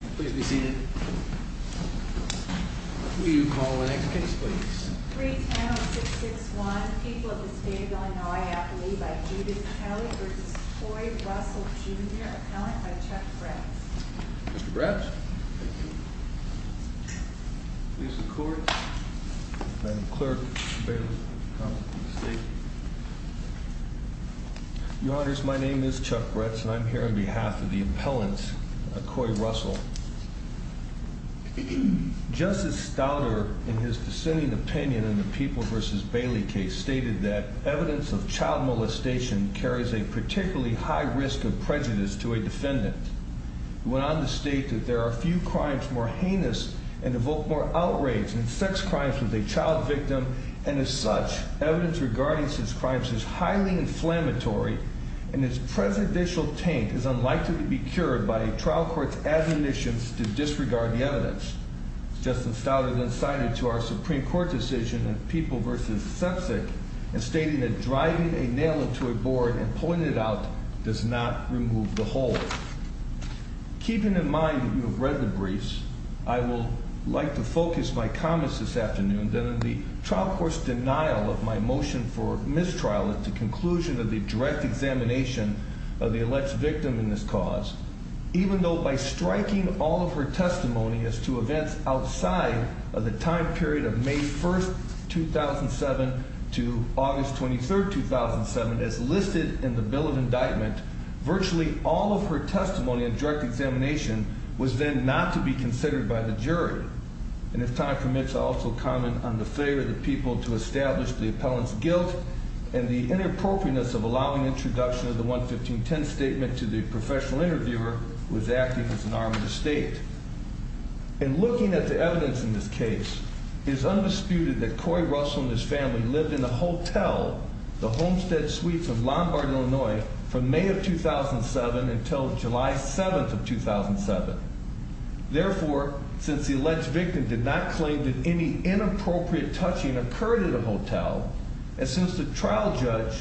Jr. Appellant by Chuck Bratz. Mr. Bratz? Thank you. Please, the Court. Madam Clerk, Mr. Bailiff, Counsel to the State. Your Honors, my name is Chuck Bratz, and I'm here on behalf of the Appellant, Coy Russell. Justice Staudter, in his dissenting opinion in the People v. Bailey case, stated that evidence of child molestation carries a particularly high risk of prejudice to a defendant. He went on to state that there are few crimes more heinous and evoke more outrage than sex crimes with a child victim, and as such, evidence regarding such crimes is highly inflammatory, and its prejudicial taint is unlikely to be cured by a trial court's admonitions to disregard the evidence. Justice Staudter then cited to our Supreme Court decision in People v. Sepsic in stating that driving a nail into a board and pulling it out does not remove the hole. Keeping in mind that you have read the briefs, I would like to focus my comments this afternoon on the trial court's denial of my motion for mistrial at the conclusion of the direct examination of the alleged victim in this cause. Even though by striking all of her testimony as to events outside of the time period of May 1, 2007 to August 23, 2007, as listed in the Bill of Indictment, virtually all of her testimony in direct examination was then not to be considered by the jury. And if time permits, I'll also comment on the failure of the people to establish the appellant's guilt and the inappropriateness of allowing introduction of the 11510 statement to the professional interviewer, who is acting as an arm of the state. In looking at the evidence in this case, it is undisputed that Corey Russell and his family lived in a hotel, the Homestead Suite from Lombard, Illinois, from May of 2007 until July 7 of 2007. Therefore, since the alleged victim did not claim that any inappropriate touching occurred at a hotel, and since the trial judge,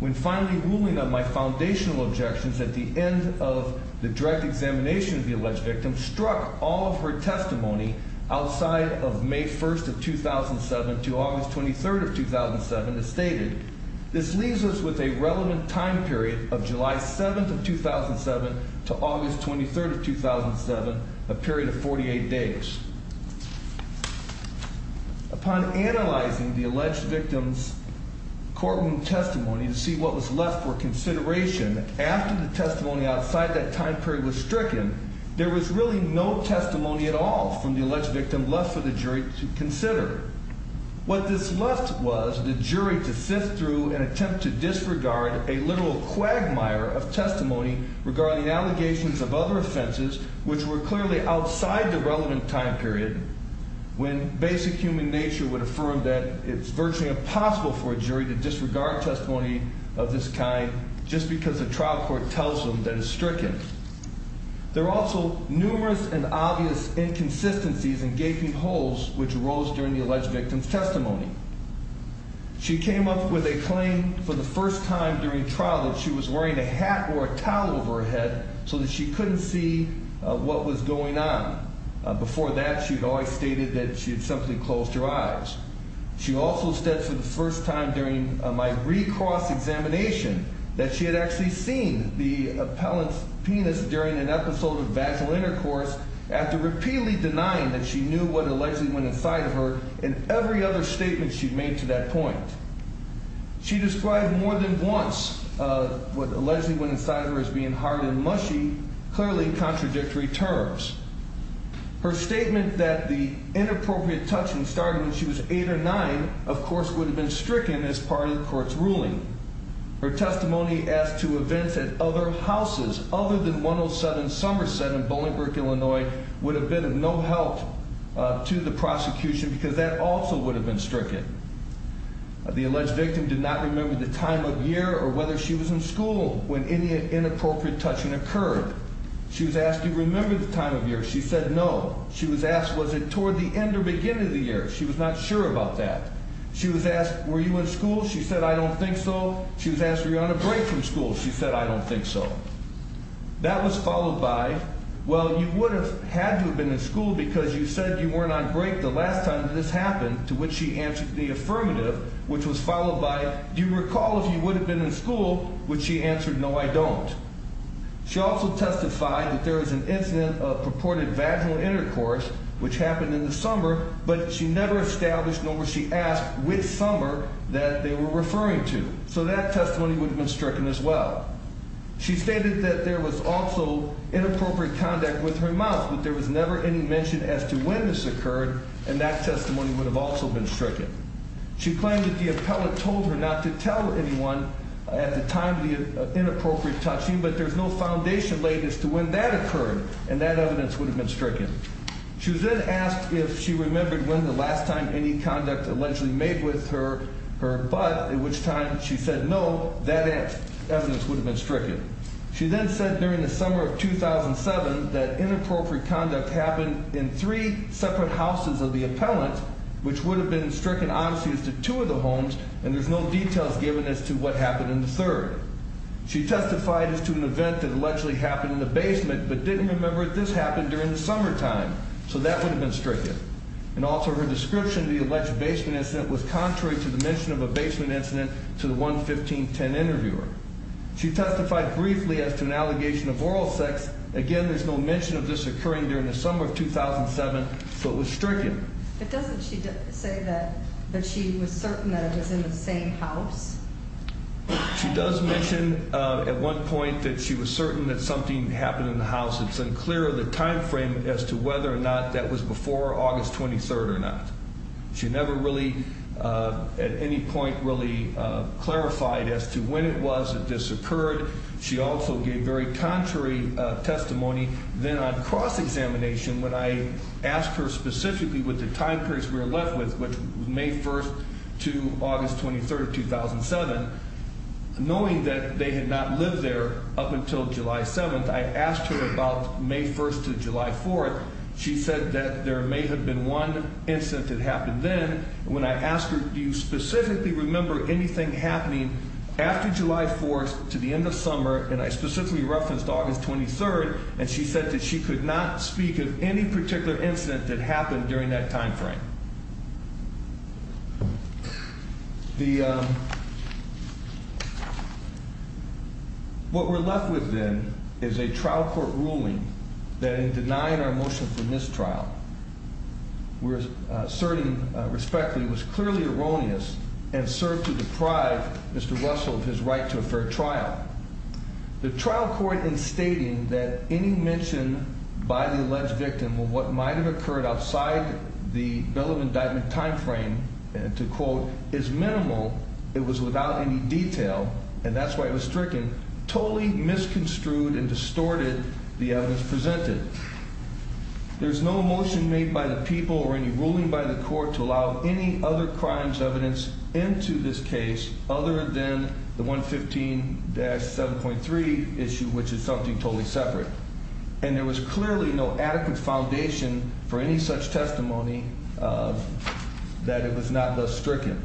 when finally ruling on my foundational objections at the end of the direct examination of the alleged victim, struck all of her testimony outside of May 1, 2007 to August 23, 2007, as stated, this leaves us with a relevant time period of July 7 of 2007 to August 23 of 2007, a period of 48 days. Upon analyzing the alleged victim's courtroom testimony to see what was left for consideration, after the testimony outside that time period was stricken, there was really no testimony at all from the alleged victim left for the jury to consider. What this left was the jury to sift through and attempt to disregard a literal quagmire of testimony regarding allegations of other offenses, which were clearly outside the relevant time period, when basic human nature would affirm that it's virtually impossible for a jury to disregard testimony of this kind just because the trial court tells them that it's stricken. There are also numerous and obvious inconsistencies and gaping holes which arose during the alleged victim's testimony. She came up with a claim for the first time during trial that she was wearing a hat or a towel over her head so that she couldn't see what was going on. Before that, she had always stated that she had simply closed her eyes. She also said for the first time during my re-cross examination that she had actually seen the appellant's penis during an episode of vaginal intercourse after repeatedly denying that she knew what allegedly went inside of her in every other statement she'd made to that point. She described more than once what allegedly went inside of her as being hard and mushy, clearly in contradictory terms. Her statement that the inappropriate touching started when she was eight or nine, of course, would have been stricken as part of the court's ruling. Her testimony as to events at other houses other than 107 Somerset in Bolingbrook, Illinois, would have been of no help to the prosecution because that also would have been stricken. The alleged victim did not remember the time of year or whether she was in school when any inappropriate touching occurred. She was asked, do you remember the time of year? She said, no. She was asked, was it toward the end or beginning of the year? She was not sure about that. She was asked, were you in school? She said, I don't think so. She was asked, were you on a break from school? She said, I don't think so. That was followed by, well, you would have had to have been in school because you said you weren't on break the last time this happened, to which she answered the affirmative, which was followed by, do you recall if you would have been in school, which she answered, no, I don't. She also testified that there was an incident of purported vaginal intercourse, which happened in the summer, but she never established nor was she asked which summer that they were referring to. So that testimony would have been stricken as well. She stated that there was also inappropriate conduct with her mouth, but there was never any mention as to when this occurred, and that testimony would have also been stricken. She claimed that the appellate told her not to tell anyone at the time of the inappropriate touching, but there's no foundation laid as to when that occurred, and that evidence would have been stricken. She was then asked if she remembered when the last time any conduct allegedly made with her butt, at which time she said no, that evidence would have been stricken. She then said during the summer of 2007 that inappropriate conduct happened in three separate houses of the appellant, which would have been stricken obviously as to two of the homes, and there's no details given as to what happened in the third. She testified as to an event that allegedly happened in the basement, but didn't remember that this happened during the summertime, so that would have been stricken. And also her description of the alleged basement incident was contrary to the mention of a basement incident to the 11510 interviewer. She testified briefly as to an allegation of oral sex. Again, there's no mention of this occurring during the summer of 2007, so it was stricken. But doesn't she say that she was certain that it was in the same house? She does mention at one point that she was certain that something happened in the house. It's unclear the time frame as to whether or not that was before August 23rd or not. She never really at any point really clarified as to when it was it disoccurred. She also gave very contrary testimony. Then on cross-examination, when I asked her specifically what the time periods were left with, which was May 1st to August 23rd of 2007, knowing that they had not lived there up until July 7th, I asked her about May 1st to July 4th. She said that there may have been one incident that happened then. When I asked her do you specifically remember anything happening after July 4th to the end of summer, and I specifically referenced August 23rd, and she said that she could not speak of any particular incident that happened during that time frame. What we're left with then is a trial court ruling that in denying our motion for mistrial, we're asserting respectfully, was clearly erroneous and served to deprive Mr. Russell of his right to a fair trial. The trial court in stating that any mention by the alleged victim of what might have occurred outside the bailiff indictment time frame, to quote, is minimal, it was without any detail, and that's why it was stricken, totally misconstrued and distorted the evidence presented. There's no motion made by the people or any ruling by the court to allow any other crimes evidence into this case other than the 115-7.3 issue, which is something totally separate. And there was clearly no adequate foundation for any such testimony that it was not thus stricken.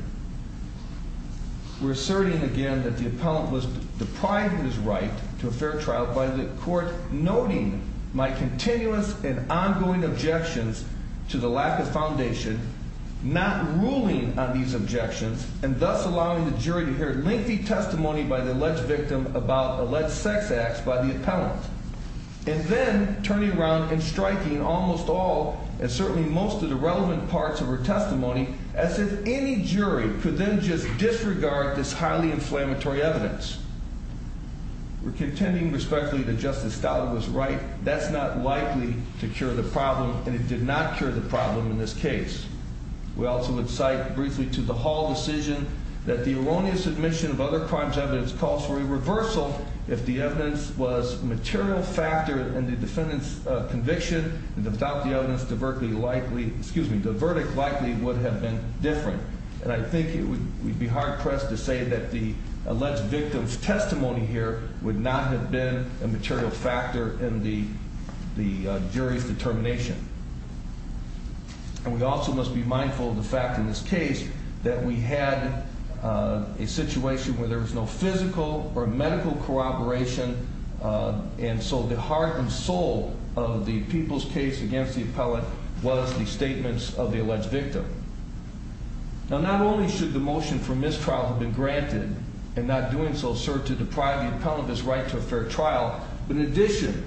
We're asserting again that the appellant was deprived of his right to a fair trial by the court noting my continuous and ongoing objections to the lack of foundation, not ruling on these objections, and thus allowing the jury to hear lengthy testimony by the alleged victim about alleged sex acts by the appellant, and then turning around and striking almost all and certainly most of the relevant parts of her testimony as if any jury could then just disregard this highly inflammatory evidence. We're contending respectfully that Justice Stout was right. That's not likely to cure the problem, and it did not cure the problem in this case. We also would cite briefly to the Hall decision that the erroneous admission of other crimes evidence calls for a reversal if the evidence was a material factor in the defendant's conviction, and without the evidence, the verdict likely would have been different. And I think we'd be hard-pressed to say that the alleged victim's testimony here would not have been a material factor in the jury's determination. And we also must be mindful of the fact in this case that we had a situation where there was no physical or medical corroboration, and so the heart and soul of the people's case against the appellant was the statements of the alleged victim. Now, not only should the motion for mistrial have been granted and not doing so serve to deprive the appellant of his right to a fair trial, but in addition,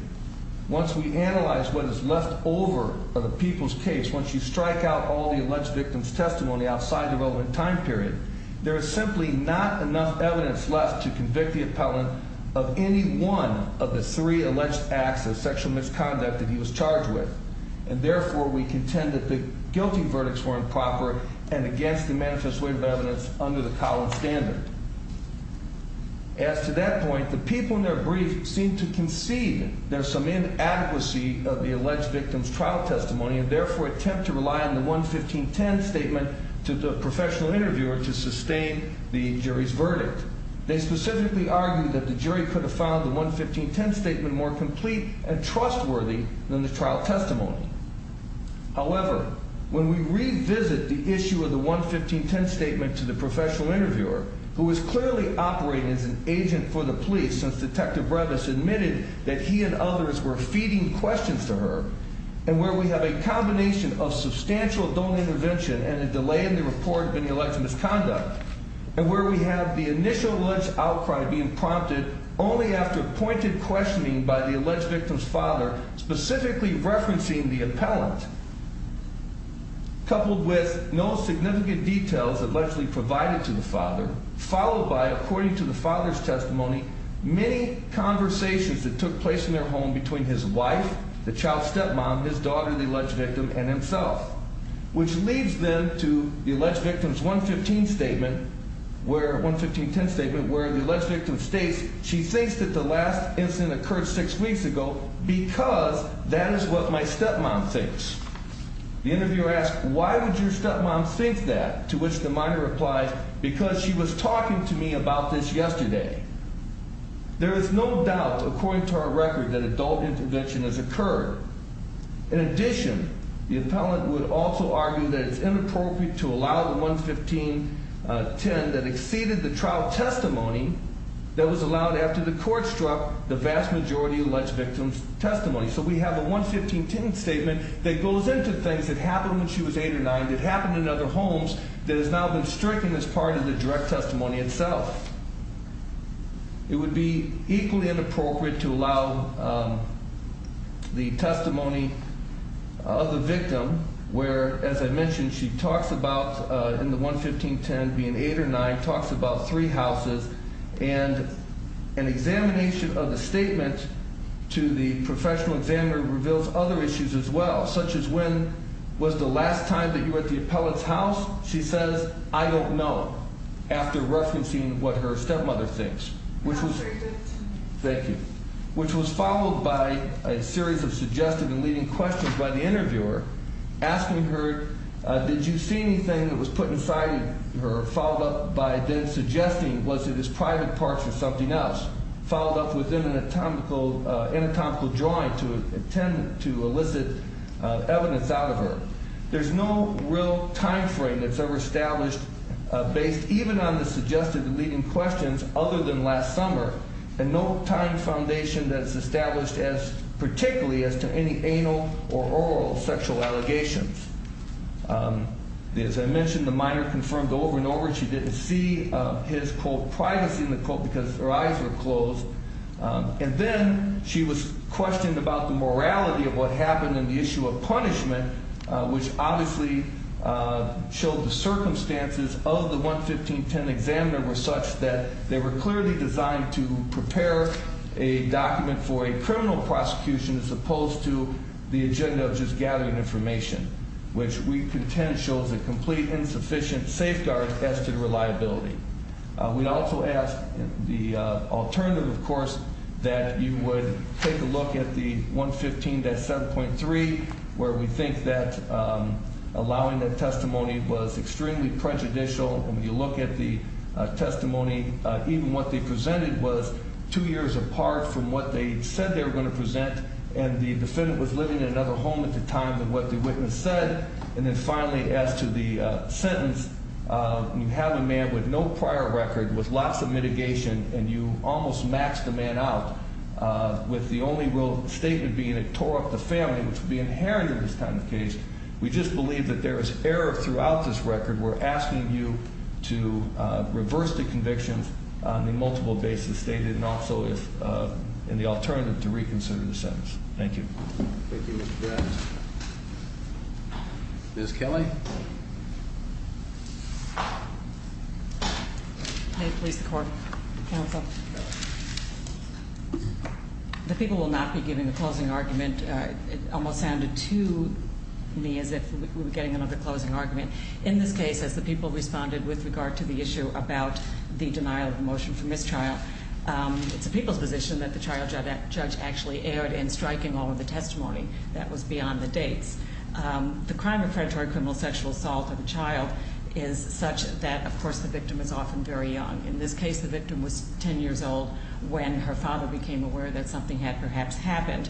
once we analyze what is left over of the people's case, once you strike out all the alleged victim's testimony outside the relevant time period, there is simply not enough evidence left to convict the appellant of any one of the three alleged acts of sexual misconduct that he was charged with, and therefore we contend that the guilty verdicts were improper and against the manifest way of evidence under the Collins standard. As to that point, the people in their brief seem to conceive there's some inadequacy of the alleged victim's trial testimony and therefore attempt to rely on the 11510 statement to the professional interviewer to sustain the jury's verdict. They specifically argue that the jury could have found the 11510 statement more complete and trustworthy than the trial testimony. However, when we revisit the issue of the 11510 statement to the professional interviewer, who was clearly operating as an agent for the police since Detective Brevis admitted that he and others were feeding questions to her, and where we have a combination of substantial donor intervention and a delay in the report of any alleged misconduct, and where we have the initial alleged outcry being prompted only after pointed questioning by the alleged victim's father, specifically referencing the appellant, coupled with no significant details allegedly provided to the father, followed by, according to the father's testimony, many conversations that took place in their home between his wife, the child's stepmom, his daughter, the alleged victim, and himself, which leads then to the alleged victim's 11510 statement, where the alleged victim states she thinks that the last incident occurred six weeks ago because that is what my stepmom thinks. The interviewer asks, why would your stepmom think that, to which the minor replies, because she was talking to me about this yesterday. There is no doubt, according to our record, that adult intervention has occurred. In addition, the appellant would also argue that it's inappropriate to allow the 11510 that exceeded the trial testimony that was allowed after the court struck the vast majority of the alleged victim's testimony. So we have a 11510 statement that goes into things that happened when she was 8 or 9, that happened in other homes, that has now been stricken as part of the direct testimony itself. It would be equally inappropriate to allow the testimony of the victim, where, as I mentioned, she talks about, in the 11510, being 8 or 9, talks about three houses, and an examination of the statement to the professional examiner reveals other issues as well, such as when was the last time that you were at the appellant's house? She says, I don't know, after referencing what her stepmother thinks. That was very good. Thank you. Which was followed by a series of suggestive and leading questions by the interviewer, asking her, did you see anything that was put inside her, followed up by then suggesting, was it his private parts or something else, followed up with an anatomical drawing to elicit evidence out of her. There's no real time frame that's ever established, based even on the suggestive and leading questions other than last summer, and no time foundation that's established as particularly as to any anal or oral sexual allegations. As I mentioned, the minor confirmed over and over she didn't see his, quote, privacy, in the quote because her eyes were closed. And then she was questioned about the morality of what happened in the issue of punishment, which obviously showed the circumstances of the 11510 examiner were such that they were clearly designed to prepare a document for a criminal prosecution as opposed to the agenda of just gathering information, which we contend shows a complete insufficient safeguard as to reliability. We also ask the alternative, of course, that you would take a look at the 115-7.3, where we think that allowing that testimony was extremely prejudicial, and when you look at the testimony, even what they presented was two years apart from what they said they were going to present, and the defendant was living in another home at the time than what the witness said. And then finally, as to the sentence, you have a man with no prior record, with lots of mitigation, and you almost maxed the man out with the only real statement being it tore up the family, which would be inherent in this kind of case. We just believe that there is error throughout this record. We're asking you to reverse the convictions on the multiple basis stated, and also in the alternative to reconsider the sentence. Thank you. Thank you, Mr. Bratt. Ms. Kelly? May it please the Court, Counsel. The people will not be giving a closing argument. It almost sounded to me as if we were getting another closing argument. In this case, as the people responded with regard to the issue about the denial of the motion for mistrial, it's the people's position that the trial judge actually erred in striking all of the testimony. That was beyond the dates. The crime of predatory criminal sexual assault of a child is such that, of course, the victim is often very young. In this case, the victim was 10 years old when her father became aware that something had perhaps happened.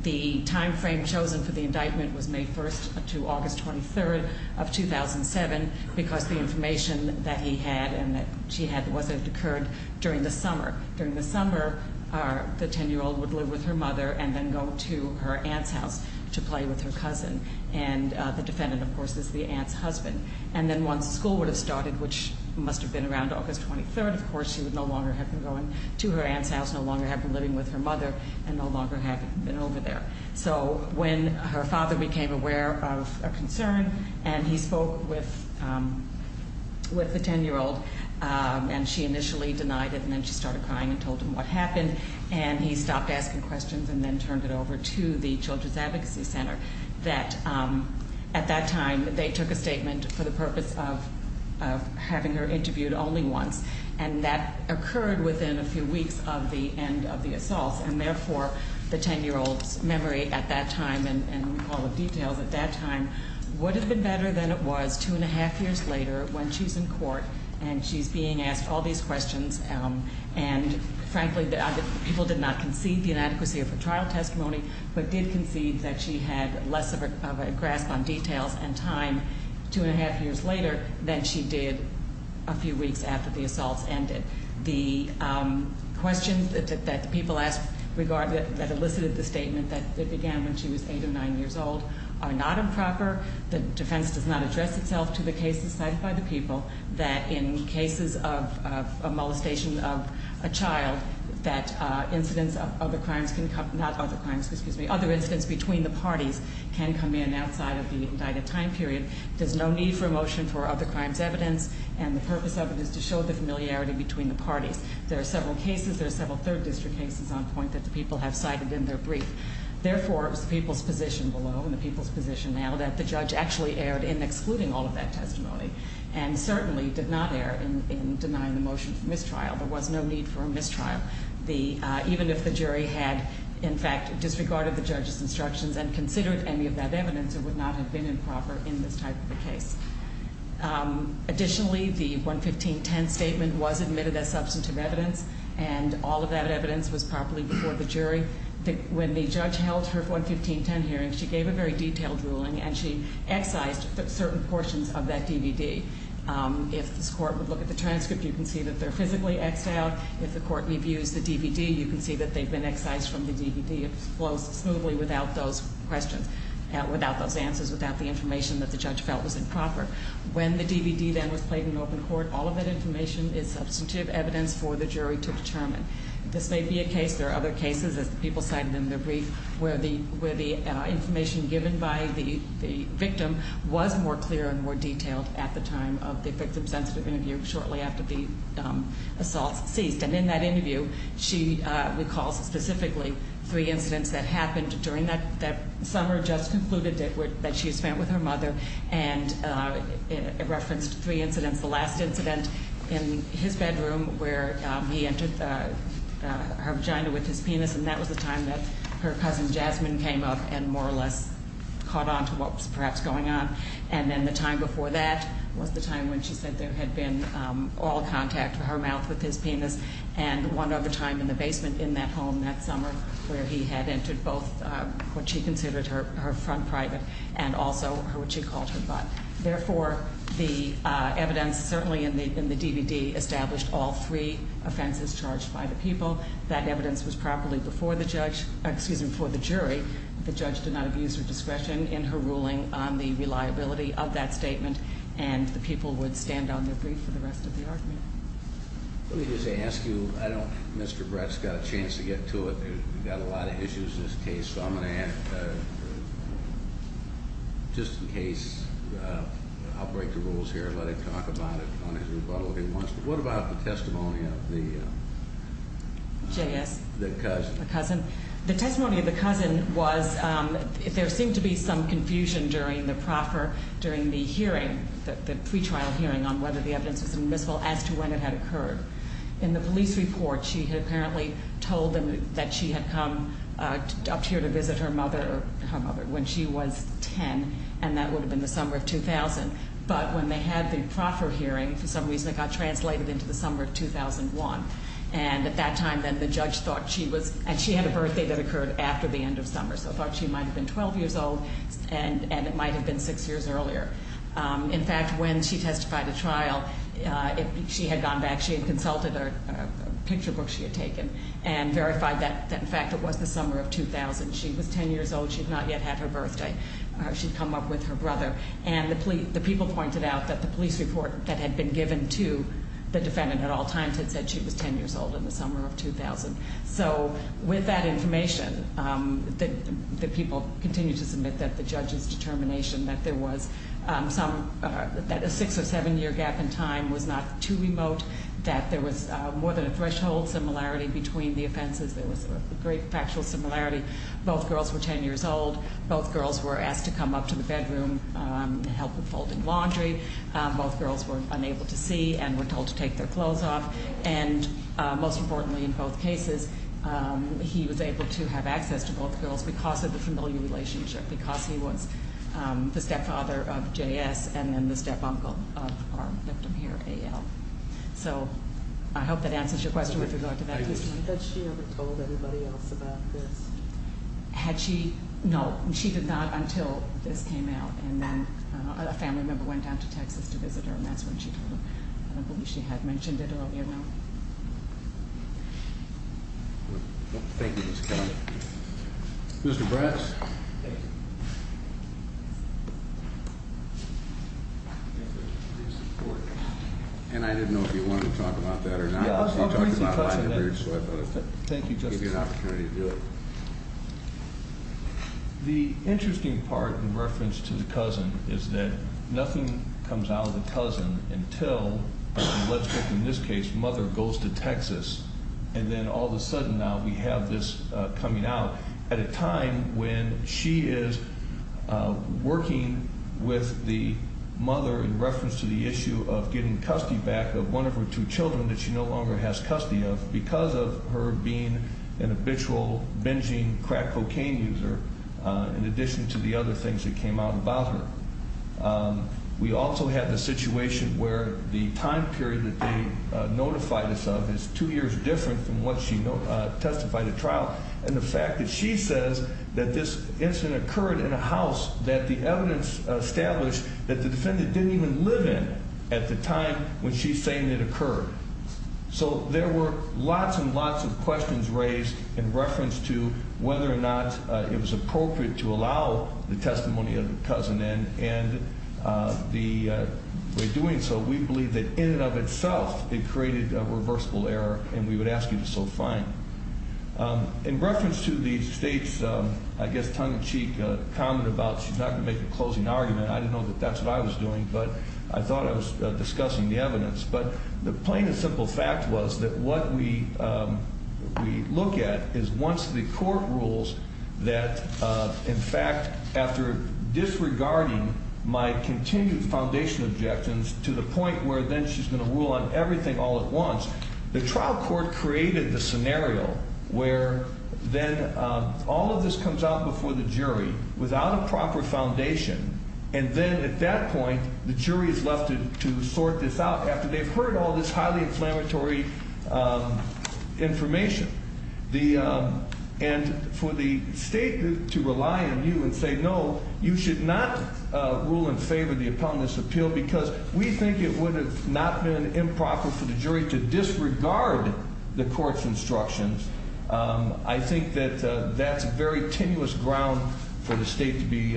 The timeframe chosen for the indictment was May 1st to August 23rd of 2007 because the information that he had and that she had was that it occurred during the summer. During the summer, the 10-year-old would live with her mother and then go to her aunt's house to play with her cousin. And the defendant, of course, is the aunt's husband. And then once school would have started, which must have been around August 23rd, of course, she would no longer have been going to her aunt's house, no longer have been living with her mother, and no longer have been over there. So when her father became aware of a concern and he spoke with the 10-year-old and she initially denied it and then she started crying and told him what happened. And he stopped asking questions and then turned it over to the Children's Advocacy Center. At that time, they took a statement for the purpose of having her interviewed only once. And that occurred within a few weeks of the end of the assault. And therefore, the 10-year-old's memory at that time and recall of details at that time would have been better than it was two and a half years later when she's in court and she's being asked all these questions. And frankly, people did not concede the inadequacy of her trial testimony, but did concede that she had less of a grasp on details and time two and a half years later than she did a few weeks after the assaults ended. The questions that the people asked that elicited the statement that it began when she was 8 or 9 years old are not improper. The defense does not address itself to the cases cited by the people that in cases of a molestation of a child, that other incidents between the parties can come in outside of the indicted time period. There's no need for a motion for other crimes evidence. And the purpose of it is to show the familiarity between the parties. There are several cases, there are several third district cases on point that the people have cited in their brief. Therefore, it was the people's position below and the people's position now that the judge actually erred in excluding all of that testimony and certainly did not err in denying the motion for mistrial. There was no need for a mistrial, even if the jury had in fact disregarded the judge's instructions and considered any of that evidence, it would not have been improper in this type of a case. Additionally, the 11510 statement was admitted as substantive evidence and all of that evidence was properly before the jury. When the judge held her 11510 hearing, she gave a very detailed ruling and she excised certain portions of that DVD. If this court would look at the transcript, you can see that they're physically exiled. If the court reviews the DVD, you can see that they've been excised from the DVD. It flows smoothly without those questions, without those answers, without the information that the judge felt was improper. When the DVD then was played in open court, all of that information is substantive evidence for the jury to determine. This may be a case, there are other cases, as the people cited in their brief, where the information given by the victim was more clear and more detailed at the time of the victim-sensitive interview shortly after the assault ceased. And in that interview, she recalls specifically three incidents that happened during that summer, and the juror just concluded that she had spent with her mother and referenced three incidents. The last incident in his bedroom where he entered her vagina with his penis and that was the time that her cousin Jasmine came up and more or less caught on to what was perhaps going on. And then the time before that was the time when she said there had been oral contact with her mouth with his penis and one other time in the basement in that home that summer where he had entered both what she considered her front private and also what she called her butt. Therefore, the evidence certainly in the DVD established all three offenses charged by the people. That evidence was properly before the jury. The judge did not abuse her discretion in her ruling on the reliability of that statement and the people would stand on their brief for the rest of the argument. Let me just ask you, Mr. Brett's got a chance to get to it. We've got a lot of issues in this case, so I'm going to ask, just in case, I'll break the rules here and let him talk about it on his rebuttal if he wants to. What about the testimony of the cousin? The testimony of the cousin was there seemed to be some confusion during the hearing, the pretrial hearing on whether the evidence was admissible as to when it had occurred. In the police report, she had apparently told them that she had come up here to visit her mother when she was 10 and that would have been the summer of 2000. But when they had the proper hearing, for some reason it got translated into the summer of 2001. And at that time then the judge thought she was, and she had a birthday that occurred after the end of summer, so thought she might have been 12 years old and it might have been six years earlier. In fact, when she testified at trial, she had gone back, she had consulted a picture book she had taken and verified that in fact it was the summer of 2000. She was 10 years old. She had not yet had her birthday. She had come up with her brother. And the people pointed out that the police report that had been given to the defendant at all times had said she was 10 years old in the summer of 2000. So with that information, the people continued to submit that the judge's determination that there was a six or seven year gap in time was not too remote, that there was more than a threshold similarity between the offenses. There was a great factual similarity. Both girls were 10 years old. Both girls were asked to come up to the bedroom to help with folding laundry. Both girls were unable to see and were told to take their clothes off. And most importantly in both cases, he was able to have access to both girls because of the familiar relationship, because he was the stepfather of J.S. and then the step-uncle of our victim here, A.L. So I hope that answers your question with regard to that. Had she ever told anybody else about this? Had she? No, she did not until this came out. And then a family member went down to Texas to visit her, and that's when she told them. I don't believe she had mentioned it earlier, no. Thank you, Ms. Kelly. Mr. Bratz. Thank you. And I didn't know if you wanted to talk about that or not. Yeah, I was going to bring some questions in. Thank you, Justice. I'll give you an opportunity to do it. The interesting part in reference to the cousin is that nothing comes out of the cousin until, let's put it in this case, mother goes to Texas, and then all of a sudden now we have this coming out at a time when she is working with the mother in reference to the issue of getting custody back of one of her two children that she no longer has custody of because of her being an habitual, binging, crack cocaine user, in addition to the other things that came out about her. We also have the situation where the time period that they notified us of is two years different from when she testified at trial, and the fact that she says that this incident occurred in a house that the evidence established that the defendant didn't even live in at the time when she's saying it occurred. So there were lots and lots of questions raised in reference to whether or not it was appropriate to allow the testimony of the cousin in, and the way of doing so, we believe that in and of itself it created a reversible error, and we would ask you to so find. In reference to the State's, I guess, tongue-in-cheek comment about she's not going to make a closing argument, I didn't know that that's what I was doing, but I thought I was discussing the evidence. But the plain and simple fact was that what we look at is once the court rules that, in fact, after disregarding my continued foundation objections to the point where then she's going to rule on everything all at once, the trial court created the scenario where then all of this comes out before the jury without a proper foundation, and then at that point the jury is left to sort this out after they've heard all this highly inflammatory information. And for the State to rely on you and say, no, you should not rule in favor of the appellant's appeal because we think it would have not been improper for the jury to disregard the court's instructions, I think that that's very tenuous ground for the State to be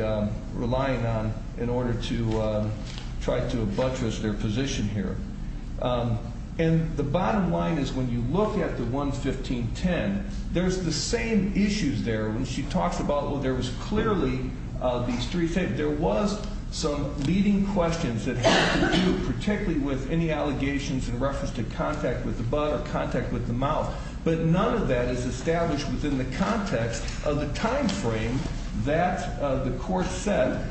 relying on in order to try to buttress their position here. And the bottom line is when you look at the 11510, there's the same issues there. When she talks about, well, there was clearly these three things. There was some leading questions that had to do particularly with any allegations in reference to contact with the butt or contact with the mouth, but none of that is established within the context of the time frame that the court set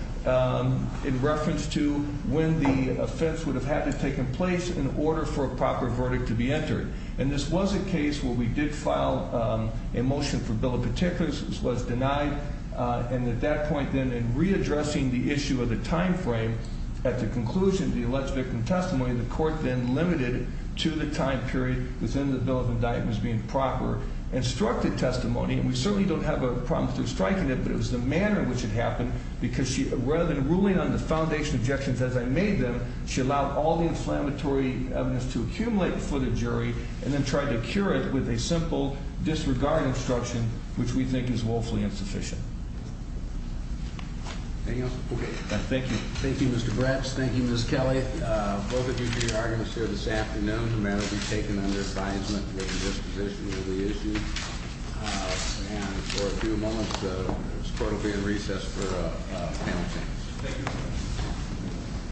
in reference to when the offense would have had to have taken place in order for a proper verdict to be entered. And this was a case where we did file a motion for bill of particulars, which was denied, and at that point then in readdressing the issue of the time frame at the conclusion of the alleged victim testimony, the court then limited to the time period within the bill of indictments being proper. Instructed testimony, and we certainly don't have a problem striking it, but it was the manner in which it happened because rather than ruling on the foundation objections as I made them, she allowed all the inflammatory evidence to accumulate before the jury and then tried to cure it with a simple disregard instruction, which we think is woefully insufficient. Anything else? Okay. Thank you. Thank you, Mr. Bratz. Thank you, Ms. Kelly. Both of you here are going to serve this afternoon. The matter will be taken under advisement with the disposition of the issued. And for a few moments, this court will be in recess for panel discussion. Thank you.